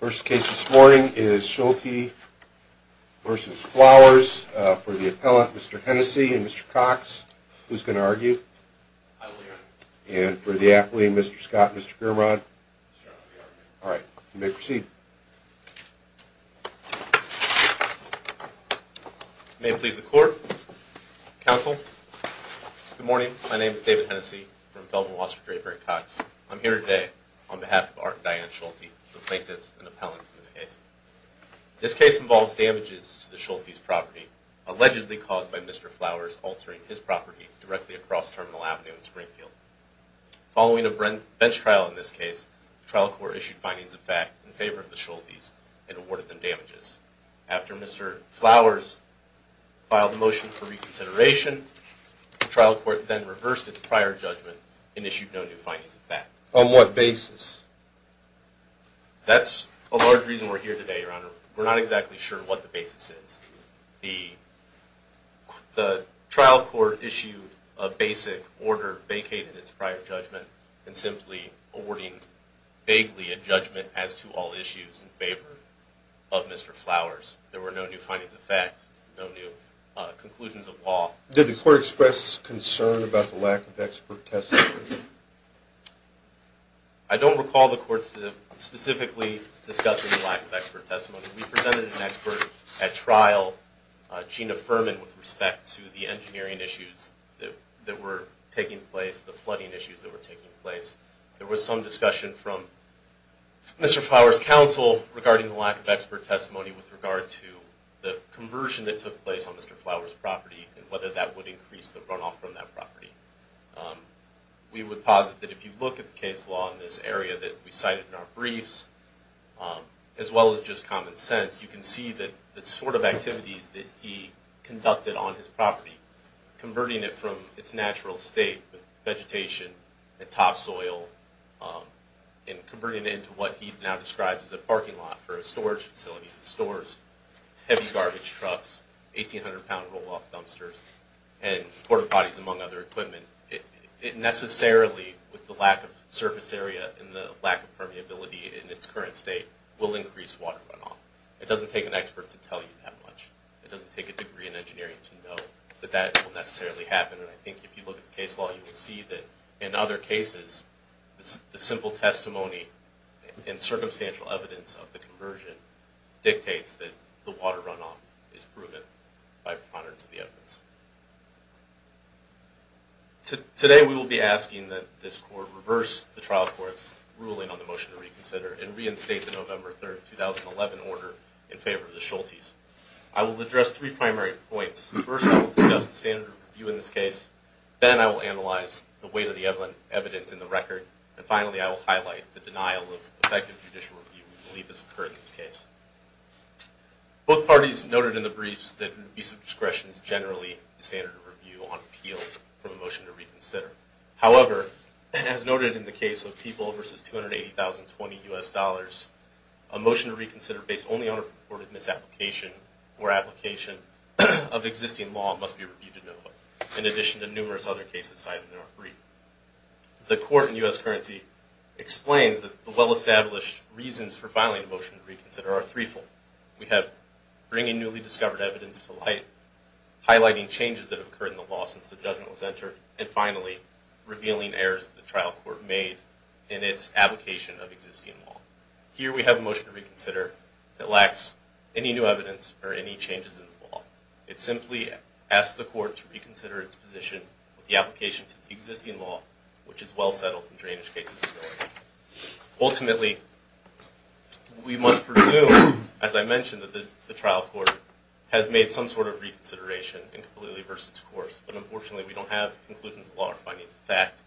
First case this morning is Shulte v. Flowers for the appellant, Mr. Hennessey and Mr. Cox. Who's going to argue? I will, Your Honor. And for the athlete, Mr. Scott and Mr. Grimrod? I'll be arguing. All right. You may proceed. May it please the Court, Counsel. Good morning. My name is David Hennessey from Feldman, Wasser, Draper, and Cox. I'm here today on behalf of Art and Diane Shulte, the plaintiffs and appellants in this case. This case involves damages to the Shultes' property, allegedly caused by Mr. Flowers altering his property directly across Terminal Avenue and Springfield. Following a bench trial in this case, the trial court issued findings of fact in favor of the Shultes and awarded them damages. After Mr. Flowers filed a motion for reconsideration, the trial court then reversed its prior judgment and issued no new findings of fact. On what basis? That's a large reason we're here today, Your Honor. We're not exactly sure what the basis is. The trial court issued a basic order vacating its prior judgment and simply awarding vaguely a judgment as to all issues in favor of Mr. Flowers. There were no new findings of fact, no new conclusions of law. Did the court express concern about the lack of expert testimony? I don't recall the court specifically discussing the lack of expert testimony. We presented an expert at trial, Gina Furman, with respect to the engineering issues that were taking place, the flooding issues that were taking place. There was some discussion from Mr. Flowers' counsel regarding the lack of expert testimony with regard to the conversion that took place on Mr. Flowers' property and whether that would increase the runoff from that property. We would posit that if you look at the case law in this area that we cited in our briefs, as well as just common sense, you can see the sort of activities that he conducted on his property, converting it from its natural state with vegetation and topsoil and converting it into what he now describes as a parking lot for a storage facility that stores heavy garbage trucks, 1,800-pound roll-off dumpsters, and quarter bodies, among other equipment. It necessarily, with the lack of surface area and the lack of permeability in its current state, will increase water runoff. It doesn't take an expert to tell you that much. It doesn't take a degree in engineering to know that that will necessarily happen. And I think if you look at the case law, you will see that in other cases, the simple testimony and circumstantial evidence of the conversion dictates that the water runoff is proven by proponents of the evidence. Today we will be asking that this Court reverse the trial court's ruling on the motion to reconsider and reinstate the November 3, 2011, order in favor of the Schultes. I will address three primary points. First, I will discuss the standard review in this case. Then I will analyze the weight of the evidence in the record. And finally, I will highlight the denial of effective judicial review we believe has occurred in this case. Both parties noted in the briefs that abuse of discretion is generally the standard review on appeal from a motion to reconsider. However, as noted in the case of People v. 280,020 U.S. dollars, a motion to reconsider based only on a purported misapplication or application of existing law must be reviewed in November, in addition to numerous other cases cited in our brief. The Court in U.S. Currency explains that the well-established reasons for filing a motion to reconsider are threefold. We have bringing newly discovered evidence to light, highlighting changes that have occurred in the law since the judgment was entered, and finally, revealing errors that the trial court made in its application of existing law. Here we have a motion to reconsider that lacks any new evidence or any changes in the law. It simply asks the Court to reconsider its position with the application to the existing law, which is well-settled in drainage cases. Ultimately, we must presume, as I mentioned, that the trial court has made some sort of reconsideration and completely reversed its course. But unfortunately, we don't have conclusions of law or findings of fact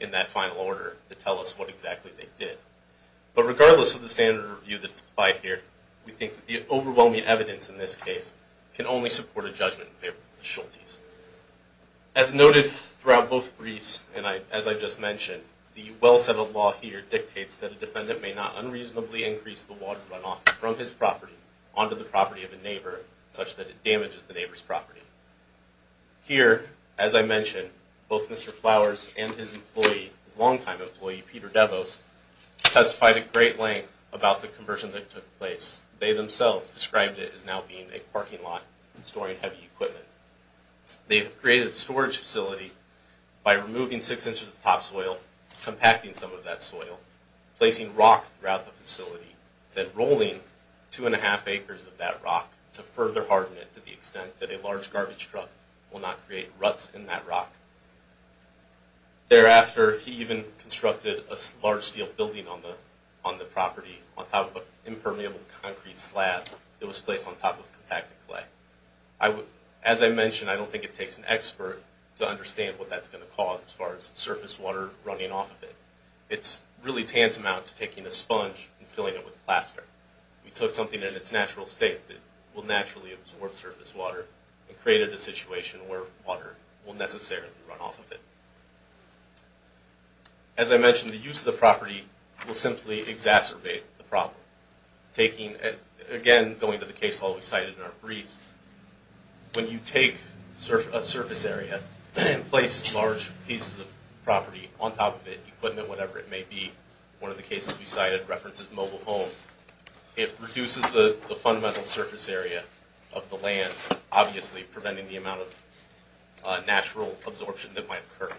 in that final order to tell us what exactly they did. But regardless of the standard review that is applied here, we think that the overwhelming evidence in this case can only support a judgment in favor of the Schultes. As noted throughout both briefs and as I just mentioned, the well-settled law here dictates that a defendant may not unreasonably increase the water runoff from his property onto the property of a neighbor such that it damages the neighbor's property. Here, as I mentioned, both Mr. Flowers and his employee, his longtime employee, Peter Devos, testified at great length about the conversion that took place. They themselves described it as now being a parking lot storing heavy equipment. They have created a storage facility by removing six inches of topsoil, compacting some of that soil, placing rock throughout the facility, then rolling two and a half acres of that rock to further harden it to the extent that a large garbage truck will not create ruts in that rock. Thereafter, he even constructed a large steel building on the property on top of an impermeable concrete slab that was placed on top of compacted clay. As I mentioned, I don't think it takes an expert to understand what that's going to cause as far as surface water running off of it. It's really tantamount to taking a sponge and filling it with plaster. We took something in its natural state that will naturally absorb surface water and created a situation where water will necessarily run off of it. As I mentioned, the use of the property will simply exacerbate the problem. Again, going to the case hall we cited in our brief, when you take a surface area and place large pieces of property on top of it, equipment, whatever it may be, one of the cases we cited references mobile homes, obviously preventing the amount of natural absorption that might occur.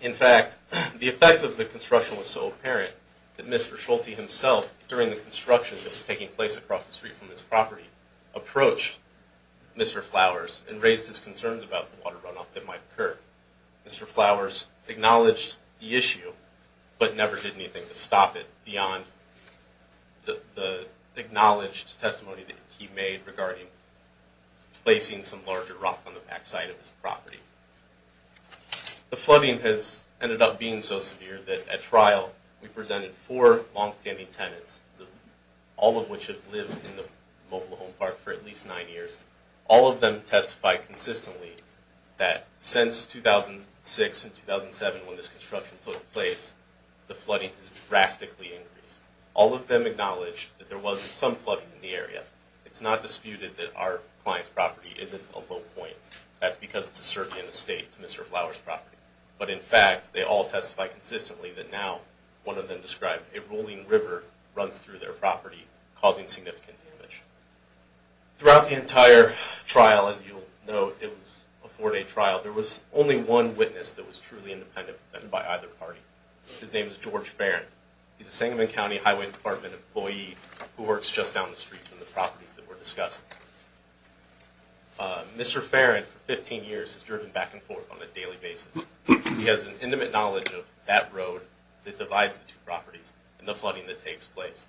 In fact, the effect of the construction was so apparent that Mr. Schulte himself, during the construction that was taking place across the street from his property, approached Mr. Flowers and raised his concerns about the water runoff that might occur. Mr. Flowers acknowledged the issue, but never did anything to stop it regarding placing some larger rock on the back side of his property. The flooding has ended up being so severe that at trial, we presented four longstanding tenants, all of which have lived in the mobile home park for at least nine years. All of them testified consistently that since 2006 and 2007, when this construction took place, the flooding has drastically increased. All of them acknowledged that there was some flooding in the area. But it's not disputed that our client's property isn't a low point. That's because it's a survey in the state to Mr. Flowers' property. But in fact, they all testified consistently that now, one of them described, a rolling river runs through their property, causing significant damage. Throughout the entire trial, as you'll note, it was a four-day trial. There was only one witness that was truly independent, and by either party. His name is George Farrin. He's a Sangamon County Highway Department employee who works just down the street from the properties that we're discussing. Mr. Farrin, for 15 years, has driven back and forth on a daily basis. He has an intimate knowledge of that road that divides the two properties and the flooding that takes place.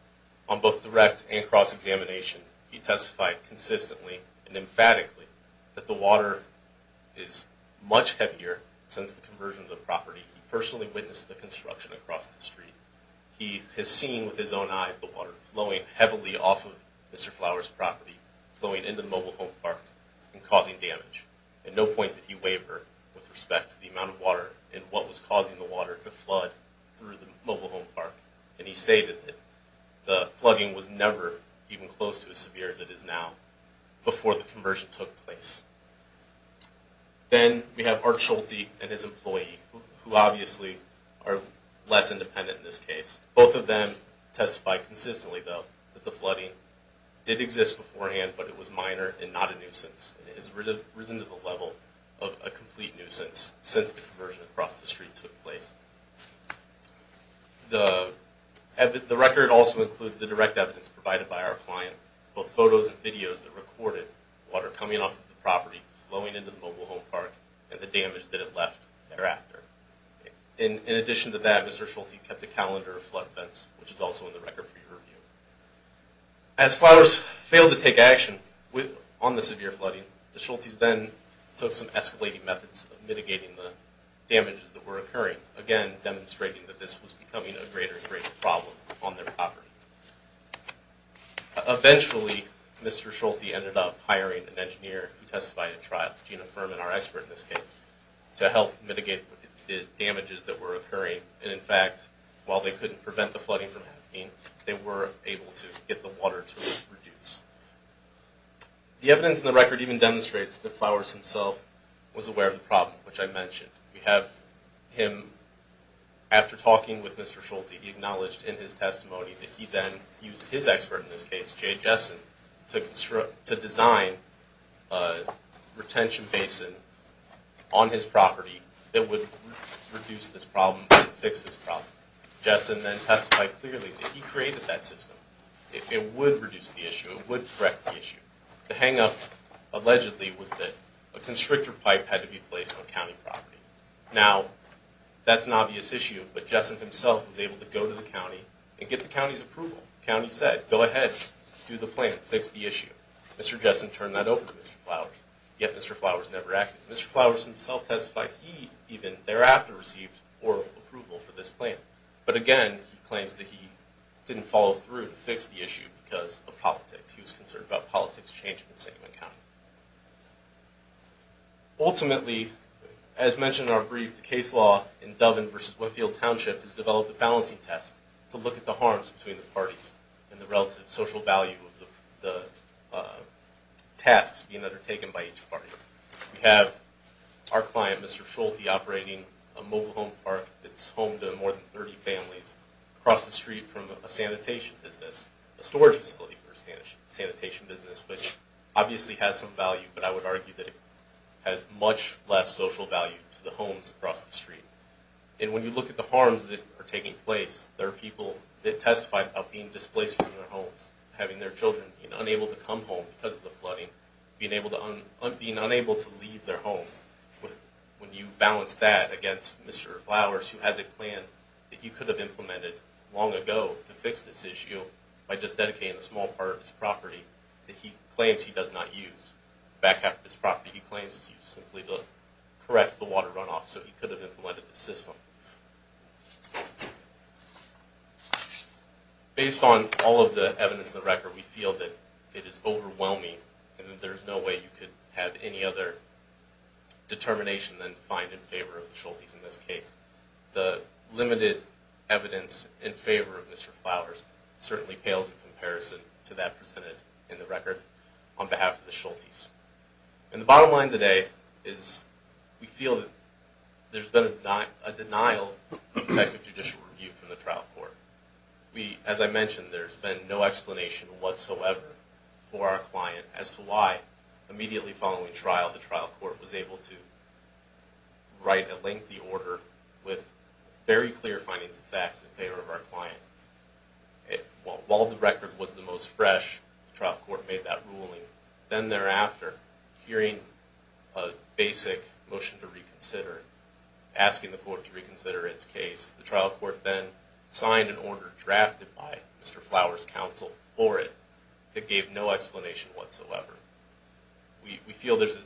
On both direct and cross-examination, he testified consistently and emphatically that the water is much heavier since the conversion of the property. He personally witnessed the construction across the street. He has seen with his own eyes the water flowing heavily off of Mr. Flowers' property, flowing into the mobile home park, and causing damage. At no point did he waver with respect to the amount of water and what was causing the water to flood through the mobile home park. And he stated that the flooding was never even close to as severe as it is now before the conversion took place. Then we have Art Schulte and his employee, who obviously are less independent in this case. Both of them testified consistently, though, that the flooding did exist beforehand, but it was minor and not a nuisance. It has risen to the level of a complete nuisance since the conversion across the street took place. The record also includes the direct evidence provided by our client, both photos and videos that recorded water coming off of the property, flowing into the mobile home park, and the damage that it left thereafter. In addition to that, Mr. Schulte kept a calendar of flood events, which is also in the record for your review. As Flowers failed to take action on the severe flooding, the Schultes then took some escalating methods of mitigating the damages that were occurring, again demonstrating that this was becoming a greater and greater problem on their property. Eventually, Mr. Schulte ended up hiring an engineer who testified at trial, Gina Furman, our expert in this case, to help mitigate the damages that were occurring. And in fact, while they couldn't prevent the flooding from happening, they were able to get the water to reduce. The evidence in the record even demonstrates that Flowers himself was aware of the problem, which I mentioned. We have him, after talking with Mr. Schulte, he acknowledged in his testimony that he then used his expert in this case, Jay Jessen, to design a retention basin on his property that would reduce this problem and fix this problem. Jessen then testified clearly that he created that system. It would reduce the issue. It would correct the issue. The hang-up, allegedly, was that a constrictor pipe had to be placed on county property. Now, that's an obvious issue, but Jessen himself was able to go to the county and get the county's approval. The county said, go ahead, do the plan, fix the issue. Mr. Jessen turned that over to Mr. Flowers, yet Mr. Flowers never acted. Mr. Flowers himself testified he even thereafter received oral approval for this plan. But again, he claims that he didn't follow through to fix the issue because of politics. He was concerned about politics changing in Sigmund County. Ultimately, as mentioned in our brief, the case law in Doven versus Winfield Township has developed a balancing test to look at the harms between the parties and the relative social value of the tasks being undertaken by each party. We have our client, Mr. Schulte, operating a mobile home park that's home to more than 30 families across the street from a sanitation business, a storage facility for a sanitation business, which obviously has some value, but I would argue that it has much less social value to the homes across the street. And when you look at the harms that are taking place, there are people that testified about being displaced from their homes, having their children being unable to come home because of the flooding, being unable to leave their homes. When you balance that against Mr. Flowers, who has a plan that he could have implemented long ago to fix this issue by just dedicating a small part of his property that he claims he does not use, back half of his property he claims is used simply to correct the water runoff, so he could have implemented the system. Based on all of the evidence in the record, we feel that it is overwhelming and that there is no way you could have any other determination than to find in favor of the Schultes in this case. The limited evidence in favor of Mr. Flowers certainly pales in comparison to that presented in the record on behalf of the Schultes. And the bottom line today is we feel that there has been a denial of effective judicial review from the trial court. As I mentioned, there has been no explanation whatsoever for our client as to why immediately following trial, the trial court was able to write a lengthy order with very clear findings of fact in favor of our client. While the record was the most fresh, the trial court made that ruling. Then thereafter, hearing a basic motion to reconsider, asking the court to reconsider its case, the trial court then signed an order drafted by Mr. Flowers' counsel for it that gave no explanation whatsoever. We feel there is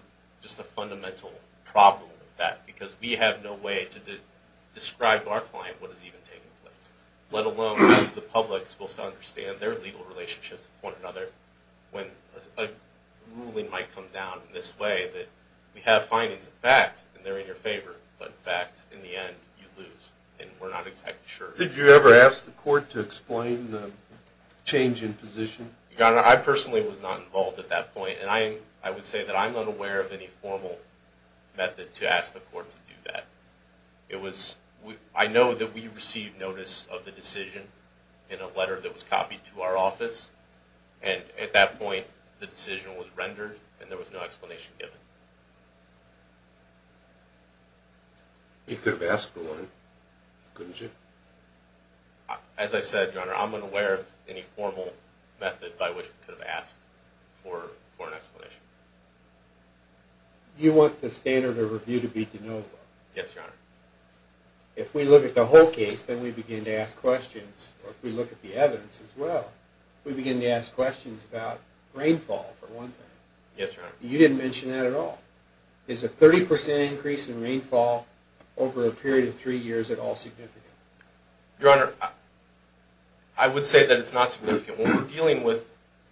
just a fundamental problem with that because we have no way to describe to our client what is even taking place, let alone as the public is supposed to understand their legal relationships with one another, when a ruling might come down in this way that we have findings of fact and they're in your favor, but in fact in the end you lose and we're not exactly sure. Did you ever ask the court to explain the change in position? Your Honor, I personally was not involved at that point, and I would say that I'm unaware of any formal method to ask the court to do that. I know that we received notice of the decision in a letter that was copied to our office, and at that point the decision was rendered and there was no explanation given. You could have asked for one, couldn't you? As I said, Your Honor, I'm unaware of any formal method by which we could have asked for an explanation. You want the standard of review to be de novo? Yes, Your Honor. If we look at the whole case, then we begin to ask questions, or if we look at the evidence as well, we begin to ask questions about rainfall for one thing. Yes, Your Honor. You didn't mention that at all. Is a 30% increase in rainfall over a period of three years at all significant? Your Honor, I would say that it's not significant. When we're dealing with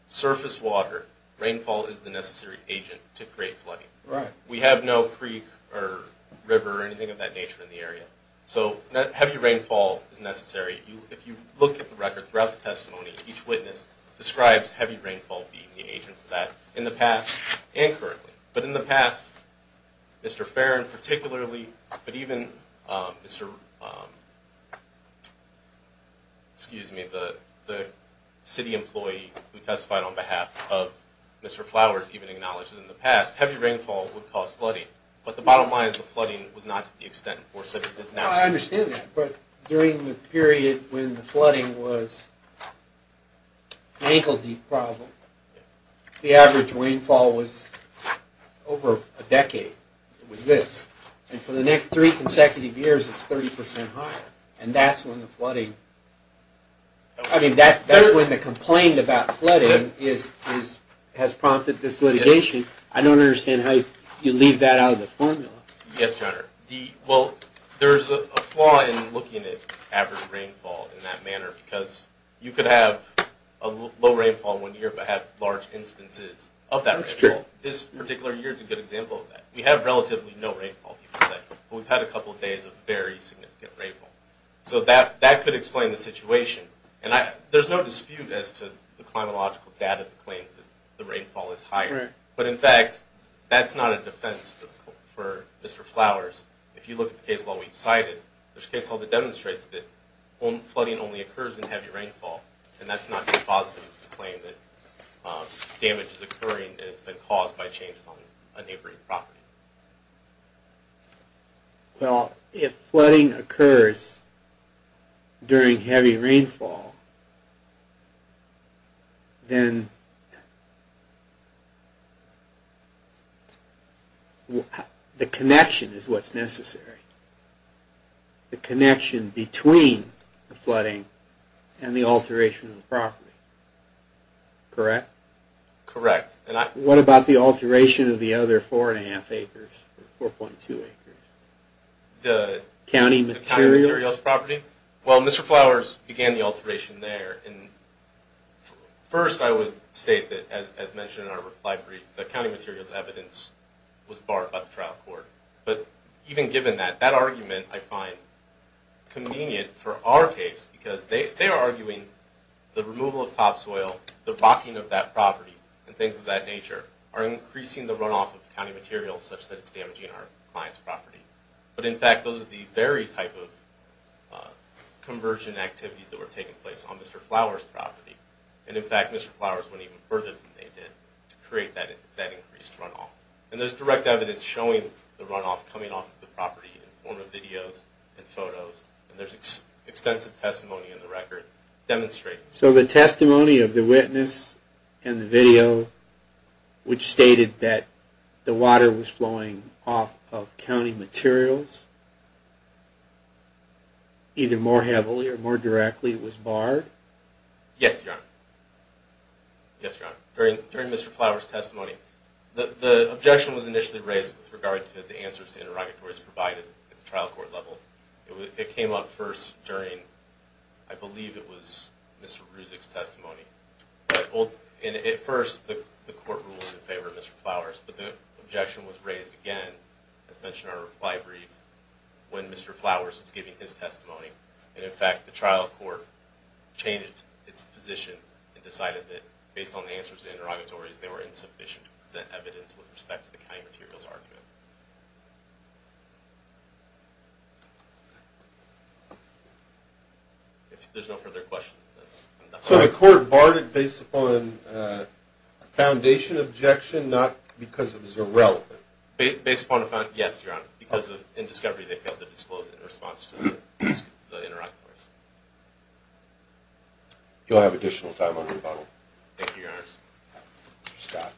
surface water, rainfall is the necessary agent to create flooding. Right. We have no creek or river or anything of that nature in the area, so heavy rainfall is necessary. If you look at the record throughout the testimony, each witness describes heavy rainfall being the agent for that in the past and currently. But in the past, Mr. Farrin particularly, but even Mr., excuse me, the city employee who testified on behalf of Mr. Flowers even acknowledged that in the past, heavy rainfall would cause flooding. But the bottom line is the flooding was not to the extent that it is now. I understand that, but during the period when the flooding was an ankle-deep problem, the average rainfall was over a decade. It was this. And for the next three consecutive years, it's 30% higher. And that's when the flooding, I mean, that's when the complaint about flooding has prompted this litigation. I don't understand how you leave that out of the formula. Yes, Your Honor. Well, there's a flaw in looking at average rainfall in that manner because you could have low rainfall one year but have large instances of that rainfall. This particular year is a good example of that. We have relatively no rainfall, but we've had a couple of days of very significant rainfall. So that could explain the situation. And there's no dispute as to the climatological data that claims that the rainfall is higher. But, in fact, that's not a defense for Mr. Flowers. If you look at the case law we've cited, there's a case law that demonstrates that flooding only occurs in heavy rainfall. And that's not a positive claim that damage is occurring and it's been caused by changes on a neighboring property. Well, if flooding occurs during heavy rainfall, then the connection is what's necessary. The connection between the flooding and the alteration of the property. Correct? Correct. What about the alteration of the other 4.2 acres? The county materials property? Well, Mr. Flowers began the alteration there. First, I would state that, as mentioned in our reply brief, the county materials evidence was barred by the trial court. But even given that, that argument I find convenient for our case because they are arguing the removal of topsoil, the rocking of that property, and things of that nature are increasing the runoff of county materials such that it's damaging our client's property. But, in fact, those are the very type of conversion activities that were taking place on Mr. Flowers' property. And, in fact, Mr. Flowers went even further than they did to create that increased runoff. And there's direct evidence showing the runoff coming off the property in the form of videos and photos. And there's extensive testimony in the record demonstrating that. So the testimony of the witness and the video, which stated that the water was flowing off of county materials, either more heavily or more directly, was barred? Yes, Your Honor. Yes, Your Honor. During Mr. Flowers' testimony, the objection was initially raised with regard to the answers to interrogatories provided at the trial court level. It came up first during, I believe it was Mr. Ruzic's testimony. And at first, the court ruled in favor of Mr. Flowers. But the objection was raised again, as mentioned in our reply brief, when Mr. Flowers was giving his testimony. And, in fact, the trial court changed its position and decided that, based on the answers to interrogatories, they were insufficient to present evidence with respect to the county materials argument. If there's no further questions, then I'm done. So the court barred it based upon a foundation objection, not because it was irrelevant? Based upon a foundation, yes, Your Honor. Because in discovery, they failed to disclose it in response to the interrogators. You'll have additional time on rebuttal. Thank you, Your Honor. Mr. Scott.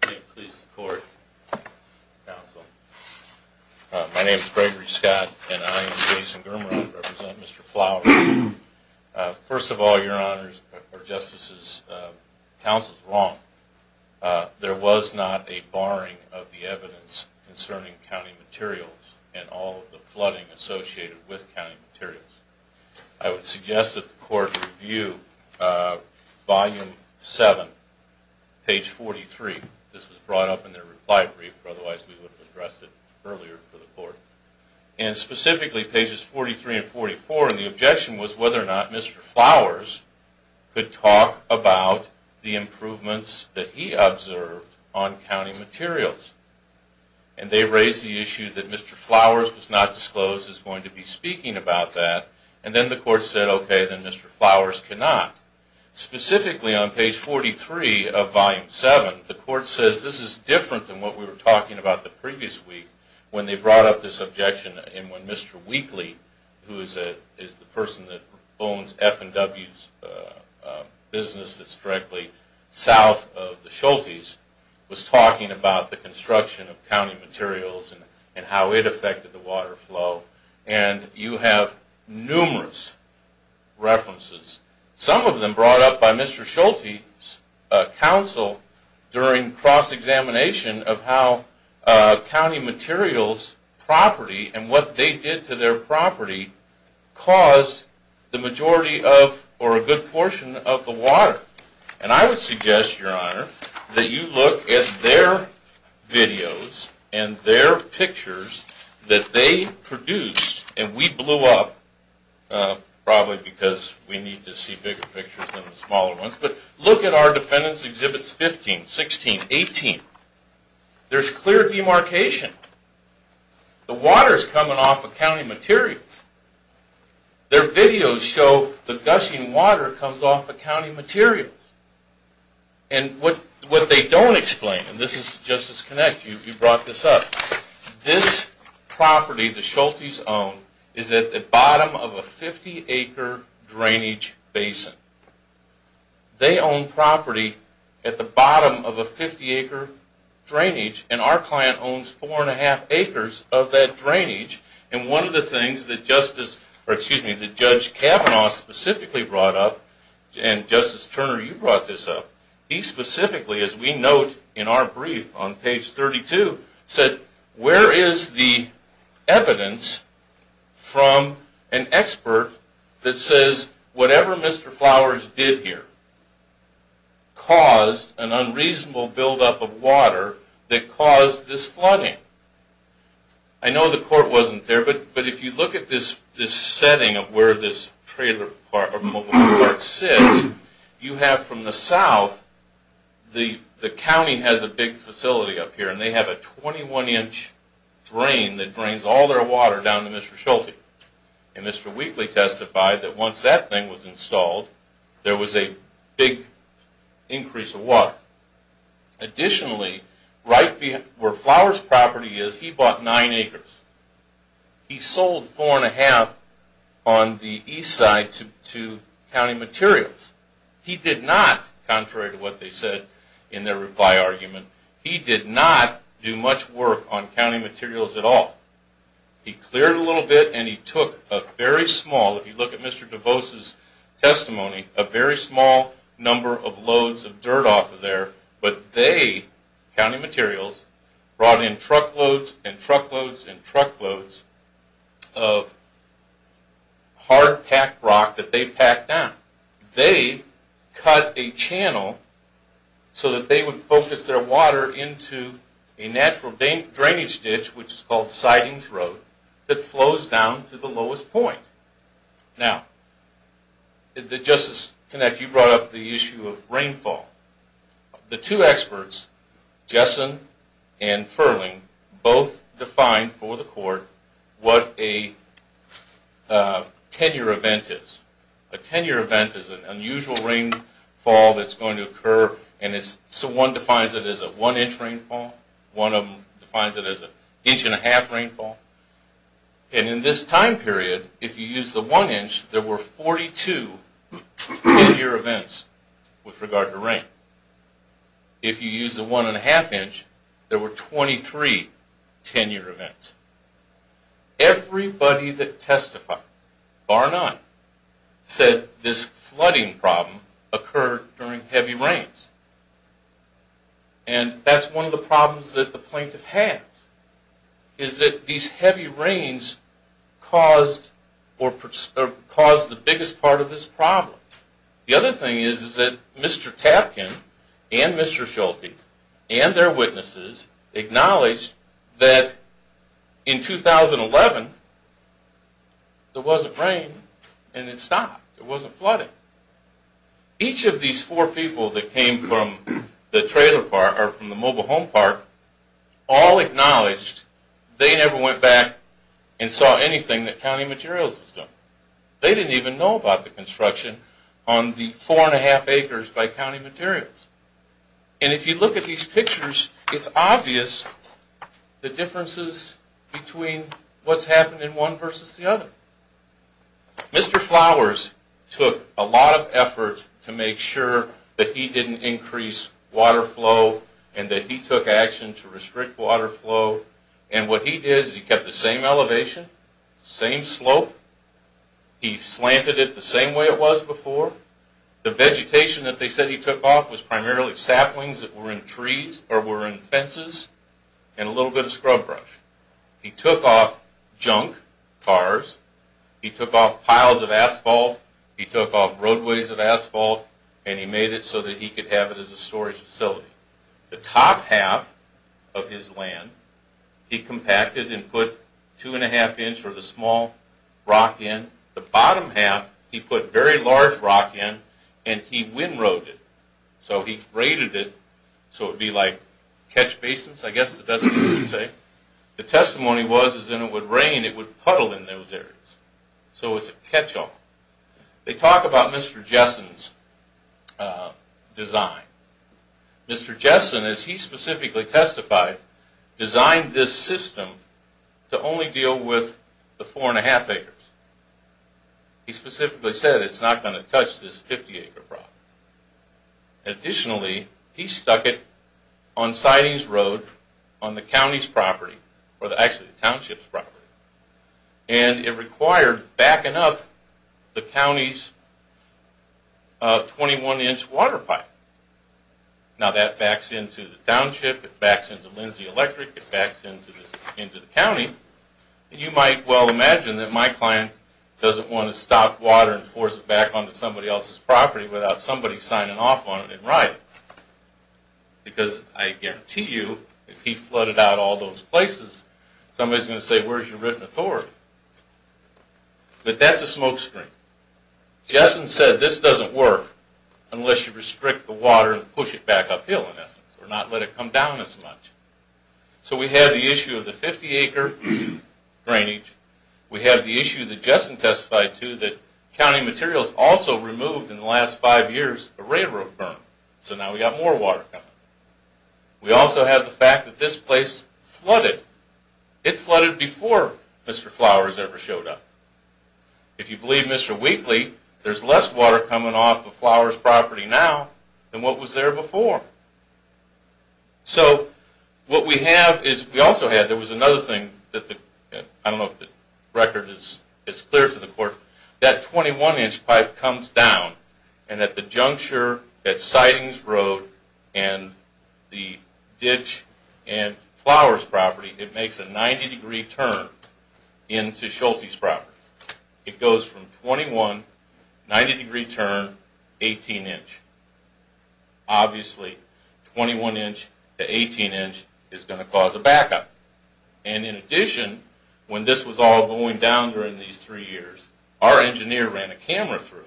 Please, the court. Counsel. My name is Gregory Scott, and I am Jason Germer. I represent Mr. Flowers. First of all, Your Honor or Justices, the counsel's wrong. There was not a barring of the evidence concerning county materials and all of the flooding associated with county materials. I would suggest that the court review Volume 7, page 43. This was brought up in their reply brief, or otherwise we would have addressed it earlier for the court. And, specifically, pages 43 and 44, and the objection was whether or not Mr. Flowers could talk about the improvements that he observed on county materials. And they raised the issue that Mr. Flowers was not disclosed as going to be speaking about that. And then the court said, okay, then Mr. Flowers cannot. Specifically on page 43 of Volume 7, the court says this is different than what we were talking about the previous week when they brought up this objection. And when Mr. Wheatley, who is the person that owns F&W's business that's directly south of the Schultes, was talking about the construction of county materials and how it affected the water flow. And you have numerous references, some of them brought up by Mr. Schultes' counsel during cross-examination of how county materials' property and what they did to their property caused the majority of, or a good portion of, the water. And I would suggest, Your Honor, that you look at their videos and their pictures that they produced. And we blew up probably because we need to see bigger pictures than the smaller ones. But look at our Defendant's Exhibits 15, 16, 18. There's clear demarcation. The water is coming off of county materials. Their videos show the gushing water comes off of county materials. And what they don't explain, and this is Justice Connect, you brought this up, this property the Schultes own is at the bottom of a 50-acre drainage basin. They own property at the bottom of a 50-acre drainage, and our client owns 4 1⁄2 acres of that drainage. And one of the things that Justice, or excuse me, that Judge Kavanaugh specifically brought up, and Justice Turner, you brought this up, he specifically, as we note in our brief on page 32, said, where is the evidence from an expert that says whatever Mr. Flowers did here caused an unreasonable buildup of water that caused this flooding? I know the court wasn't there, but if you look at this setting of where this trailer park sits, you have from the south, the county has a big facility up here, and they have a 21-inch drain that drains all their water down to Mr. Schulte. And Mr. Wheatley testified that once that thing was installed, there was a big increase of water. Additionally, right where Flowers' property is, he bought 9 acres. He sold 4 1⁄2 on the east side to County Materials. He did not, contrary to what they said in their reply argument, he did not do much work on County Materials at all. He cleared a little bit, and he took a very small, if you look at Mr. DeVos' testimony, a very small number of loads of dirt off of there, but they, County Materials, brought in truckloads and truckloads and truckloads of hard packed rock that they packed down. They cut a channel so that they would focus their water into a natural drainage ditch, which is called Sidings Road, that flows down to the lowest point. Now, Justice Kinect, you brought up the issue of rainfall. The two experts, Jessen and Furling, both defined for the court what a tenure event is. A tenure event is an unusual rainfall that's going to occur, and one defines it as a one-inch rainfall, one of them defines it as an inch-and-a-half rainfall. And in this time period, if you use the one inch, there were 42 tenure events with regard to rain. If you use the one-and-a-half inch, there were 23 tenure events. Everybody that testified, bar none, said this flooding problem occurred during heavy rains. And that's one of the problems that the plaintiff has, is that these heavy rains caused the biggest part of this problem. The other thing is that Mr. Tapkin and Mr. Schulte and their witnesses acknowledged that in 2011, there wasn't rain, and it stopped, it wasn't flooding. Each of these four people that came from the trailer part, or from the mobile home part, all acknowledged they never went back and saw anything that County Materials was doing. They didn't even know about the construction on the four-and-a-half acres by County Materials. And if you look at these pictures, it's obvious the differences between what's happened in one versus the other. Mr. Flowers took a lot of effort to make sure that he didn't increase water flow and that he took action to restrict water flow. And what he did is he kept the same elevation, same slope. He slanted it the same way it was before. The vegetation that they said he took off was primarily saplings that were in trees or were in fences and a little bit of scrub brush. He took off junk cars. He took off piles of asphalt. He took off roadways of asphalt, and he made it so that he could have it as a storage facility. The top half of his land, he compacted and put two-and-a-half inch or the small rock in. The bottom half, he put very large rock in, and he windrowed it. So he braided it so it would be like catch basins, I guess that's what he would say. The testimony was that when it would rain, it would puddle in those areas. So it's a catch-all. They talk about Mr. Jessen's design. Mr. Jessen, as he specifically testified, designed this system to only deal with the four-and-a-half acres. He specifically said it's not going to touch this 50-acre property. Additionally, he stuck it on Sidings Road on the county's property, or actually the township's property, and it required backing up the county's 21-inch water pipe. Now that backs into the township, it backs into Lindsay Electric, it backs into the county. You might well imagine that my client doesn't want to stop water and force it back onto somebody else's property without somebody signing off on it and riding it. Because I guarantee you, if he flooded out all those places, somebody's going to say, where's your written authority? But that's a smokescreen. Jessen said this doesn't work unless you restrict the water and push it back uphill, in essence, or not let it come down as much. So we have the issue of the 50-acre drainage. We have the issue that Jessen testified to, that county materials also removed in the last five years a railroad berm, so now we've got more water coming. We also have the fact that this place flooded. It flooded before Mr. Flowers ever showed up. If you believe Mr. Wheatley, there's less water coming off of Flowers' property now than what was there before. So what we have is, we also had, there was another thing, I don't know if the record is clear to the court, that 21-inch pipe comes down and at the juncture at Sidings Road and the ditch in Flowers' property, it makes a 90-degree turn into Schulte's property. It goes from 21, 90-degree turn, 18-inch. Obviously, 21-inch to 18-inch is going to cause a backup. And in addition, when this was all going down during these three years, our engineer ran a camera through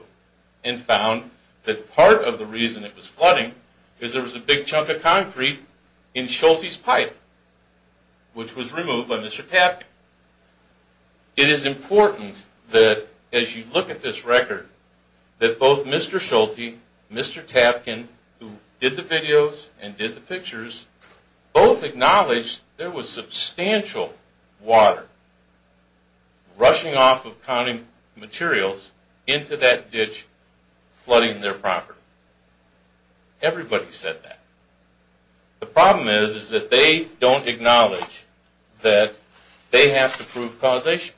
and found that part of the reason it was flooding is there was a big chunk of concrete in Schulte's pipe, which was removed by Mr. Tappan. It is important that, as you look at this record, that both Mr. Schulte and Mr. Tappan, who did the videos and did the pictures, both acknowledged there was substantial water rushing off of county materials into that ditch flooding their property. Everybody said that. The problem is that they don't acknowledge that they have to prove causation.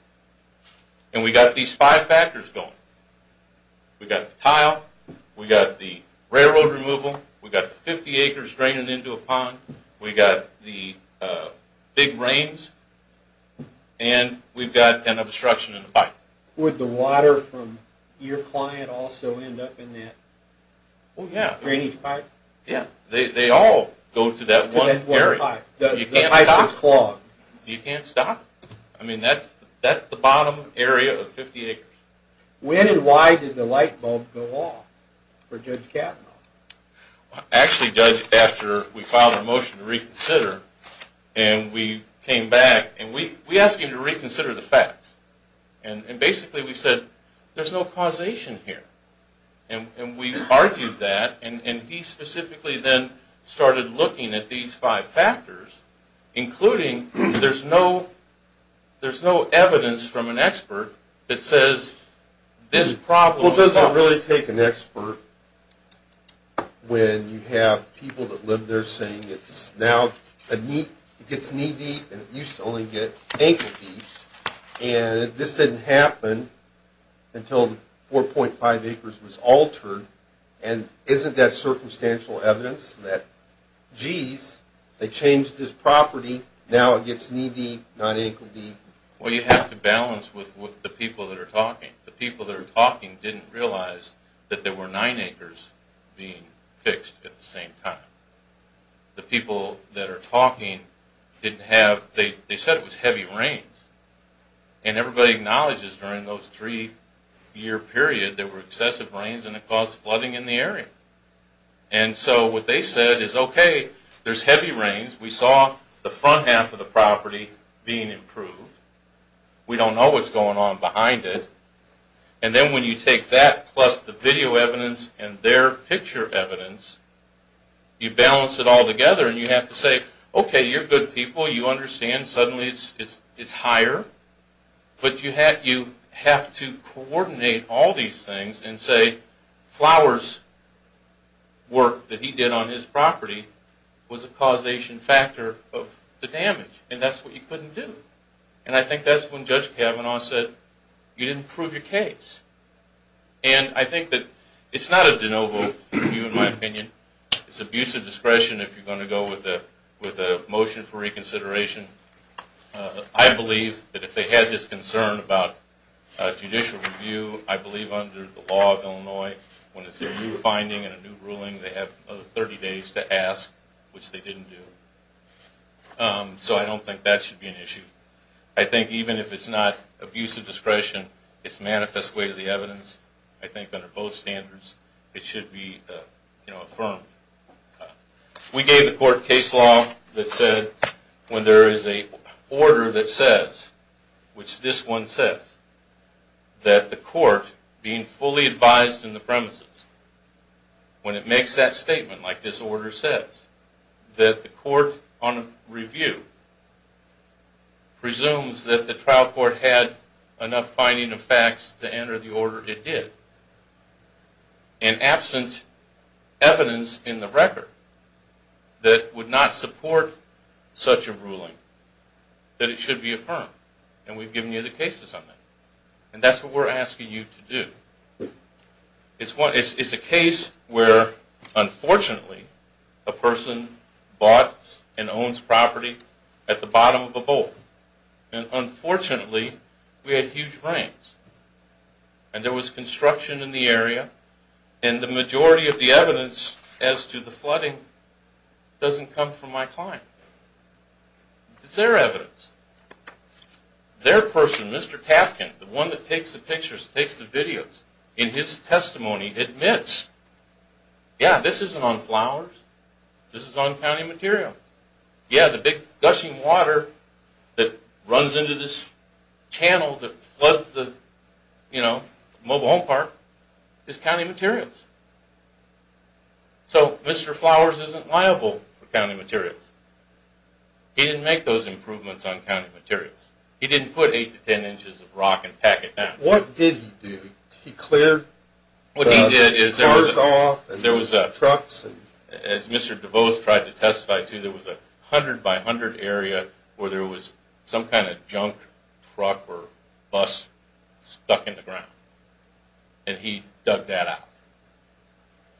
And we've got these five factors going. We've got the tile, we've got the railroad removal, we've got the 50 acres draining into a pond, we've got the big rains, and we've got an obstruction in the pipe. Would the water from your client also end up in that drainage part? Yeah, they all go to that one area. The pipe is clogged. You can't stop it. I mean, that's the bottom area of 50 acres. When and why did the light bulb go off for Judge Kavanaugh? Actually, Judge, after we filed a motion to reconsider, and we came back, and we asked him to reconsider the facts. And basically we said, there's no causation here. And we argued that, and he specifically then started looking at these five factors, including there's no evidence from an expert that says this problem was caused. Well, does it really take an expert when you have people that live there saying it's now a knee, it gets knee deep and it used to only get ankle deep, and this didn't happen until 4.5 acres was altered, and isn't that circumstantial evidence that, geez, they changed this property, now it gets knee deep, not ankle deep? Well, you have to balance with the people that are talking. The people that are talking didn't realize that there were nine acres being fixed at the same time. The people that are talking didn't have, they said it was heavy rains. And everybody acknowledges during those three-year period there were excessive rains and it caused flooding in the area. And so what they said is, okay, there's heavy rains. We saw the front half of the property being improved. We don't know what's going on behind it. And then when you take that plus the video evidence and their picture evidence, you balance it all together and you have to say, okay, you're good people. You understand suddenly it's higher. But you have to coordinate all these things and say Flowers' work that he did on his property was a causation factor of the damage, and that's what you couldn't do. And I think that's when Judge Kavanaugh said you didn't prove your case. And I think that it's not a de novo review in my opinion. It's abuse of discretion if you're going to go with a motion for reconsideration. I believe that if they had this concern about judicial review, I believe under the law of Illinois when it's a new finding and a new ruling, they have 30 days to ask, which they didn't do. So I don't think that should be an issue. I think even if it's not abuse of discretion, it's manifest way to the evidence. I think under both standards it should be affirmed. We gave the court case law that said when there is an order that says, which this one says, that the court being fully advised in the premises, when it makes that statement, like this order says, that the court on review presumes that the trial court had enough finding of facts to enter the order it did, and absent evidence in the record that would not support such a ruling, that it should be affirmed. And we've given you the cases on that. And that's what we're asking you to do. It's a case where, unfortunately, a person bought and owns property at the bottom of a bowl. And unfortunately, we had huge rains. And there was construction in the area. And the majority of the evidence as to the flooding doesn't come from my client. It's their evidence. Their person, Mr. Tafkin, the one that takes the pictures, takes the videos, in his testimony admits, yeah, this isn't on Flowers. This is on County Materials. Yeah, the big gushing water that runs into this channel that floods the mobile home park is County Materials. So Mr. Flowers isn't liable for County Materials. He didn't make those improvements on County Materials. He didn't put 8 to 10 inches of rock and pack it down. What did he do? He cleared the cars off and the trucks? As Mr. DeVos tried to testify to, there was a 100-by-100 area where there was some kind of junk truck or bus stuck in the ground. And he dug that out.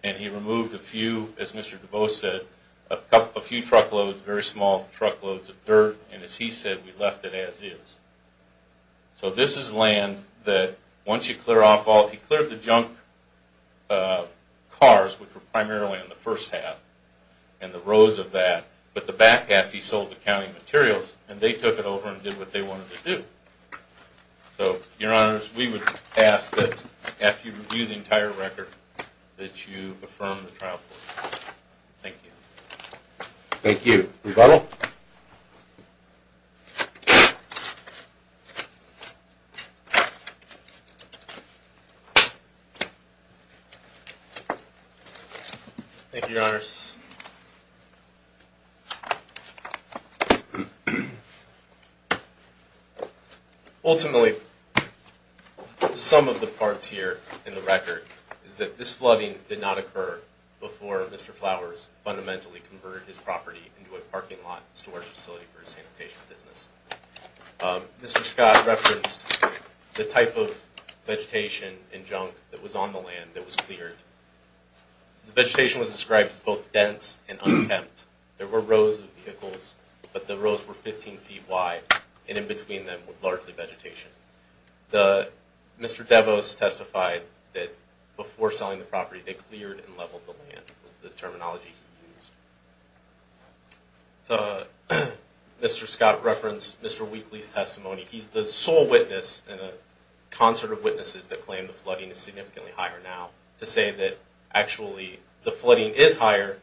And he removed a few, as Mr. DeVos said, a few truckloads, very small truckloads of dirt. And as he said, we left it as is. So this is land that once you clear off all it, he cleared the junk cars, which were primarily in the first half, and the rows of that. But the back half, he sold to County Materials, and they took it over and did what they wanted to do. So, Your Honors, we would ask that after you review the entire record, that you affirm the trial report. Thank you. Thank you. Rebuttal? Thank you, Your Honors. Ultimately, some of the parts here in the record is that this flooding did not occur before Mr. Flowers fundamentally converted his property into a parking lot storage facility for his sanitation business. Mr. Scott referenced the type of vegetation and junk that was on the land that was cleared. The vegetation was described as both dense and unkempt. There were rows of vehicles, but the rows were 15 feet wide, and in between them was largely vegetation. Mr. Devos testified that before selling the property, they cleared and leveled the land was the terminology he used. Mr. Scott referenced Mr. Wheatley's testimony. He's the sole witness in a concert of witnesses that claim the flooding is significantly higher now to say that actually the flooding is higher,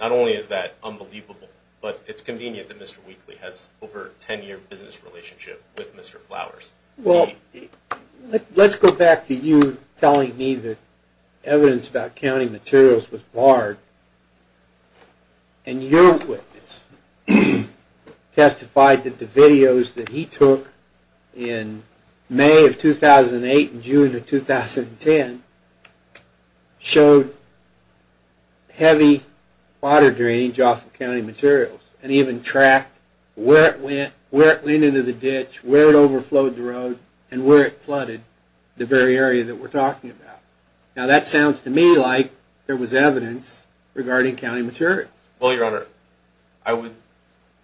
not only is that unbelievable, but it's convenient that Mr. Wheatley has over a 10-year business relationship with Mr. Flowers. Let's go back to you telling me that evidence about counting materials was barred, and your witness testified that the videos that he took in May of 2008 and June of 2010 showed heavy water drainage off of county materials, and even tracked where it went, where it went into the ditch, where it overflowed the road, and where it flooded the very area that we're talking about. Now that sounds to me like there was evidence regarding county materials. Well, Your Honor, I would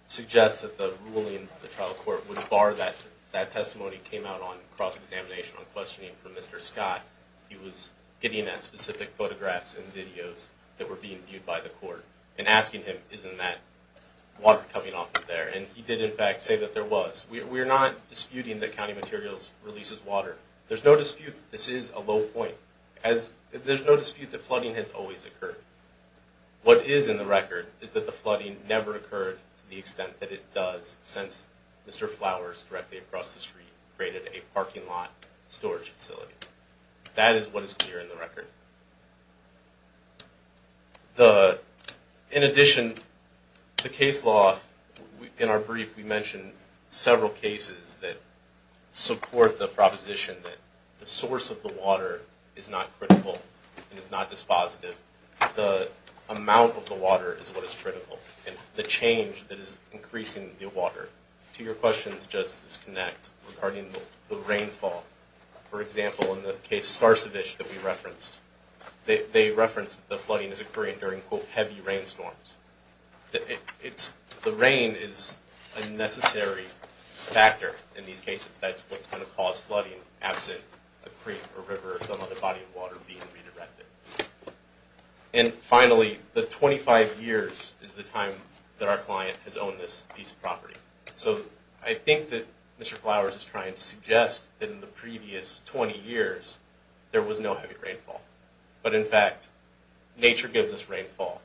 suggest that the ruling of the trial court would bar that that testimony came out on cross-examination on questioning from Mr. Scott. He was getting at specific photographs and videos that were being viewed by the court and asking him, isn't that water coming off of there? And he did, in fact, say that there was. We're not disputing that county materials releases water. There's no dispute that this is a low point. There's no dispute that flooding has always occurred. What is in the record is that the flooding never occurred to the extent that it does since Mr. Flowers, directly across the street, created a parking lot storage facility. That is what is clear in the record. In addition to case law, in our brief we mentioned several cases that support the proposition that the source of the water is not critical and it's not dispositive. The amount of the water is what is critical. And the change that is increasing the water. To your question's just disconnect regarding the rainfall. For example, in the case Starcevich that we referenced, they referenced that the flooding is occurring during, quote, heavy rainstorms. The rain is a necessary factor in these cases. That's what's going to cause flooding, absent a creek or river or some other body of water being redirected. And finally, the 25 years is the time that our client has owned this piece of property. So I think that Mr. Flowers is trying to suggest that in the previous 20 years there was no heavy rainfall. But in fact, nature gives us rainfall.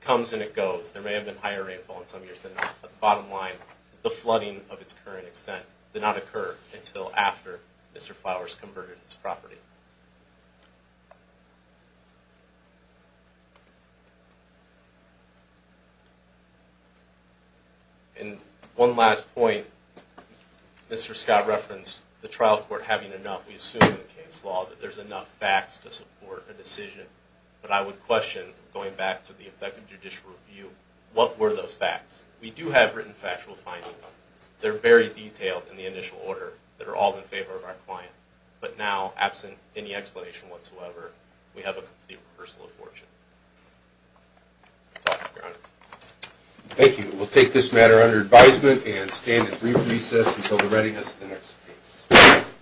It comes and it goes. There may have been higher rainfall in some years than not. But the bottom line, the flooding of its current extent did not occur until after Mr. Flowers converted this property. And one last point. Mr. Scott referenced the trial court having enough, we assume in the case law, that there's enough facts to support a decision. But I would question, going back to the effective judicial review, what were those facts? We do have written factual findings. They're very detailed in the initial order that are all in favor of our client. But now, absent any explanation whatsoever, we have a complete reversal of fortune. That's all, Your Honor. Thank you. We'll take this matter under advisement and stand at brief recess until the readiness of the next case.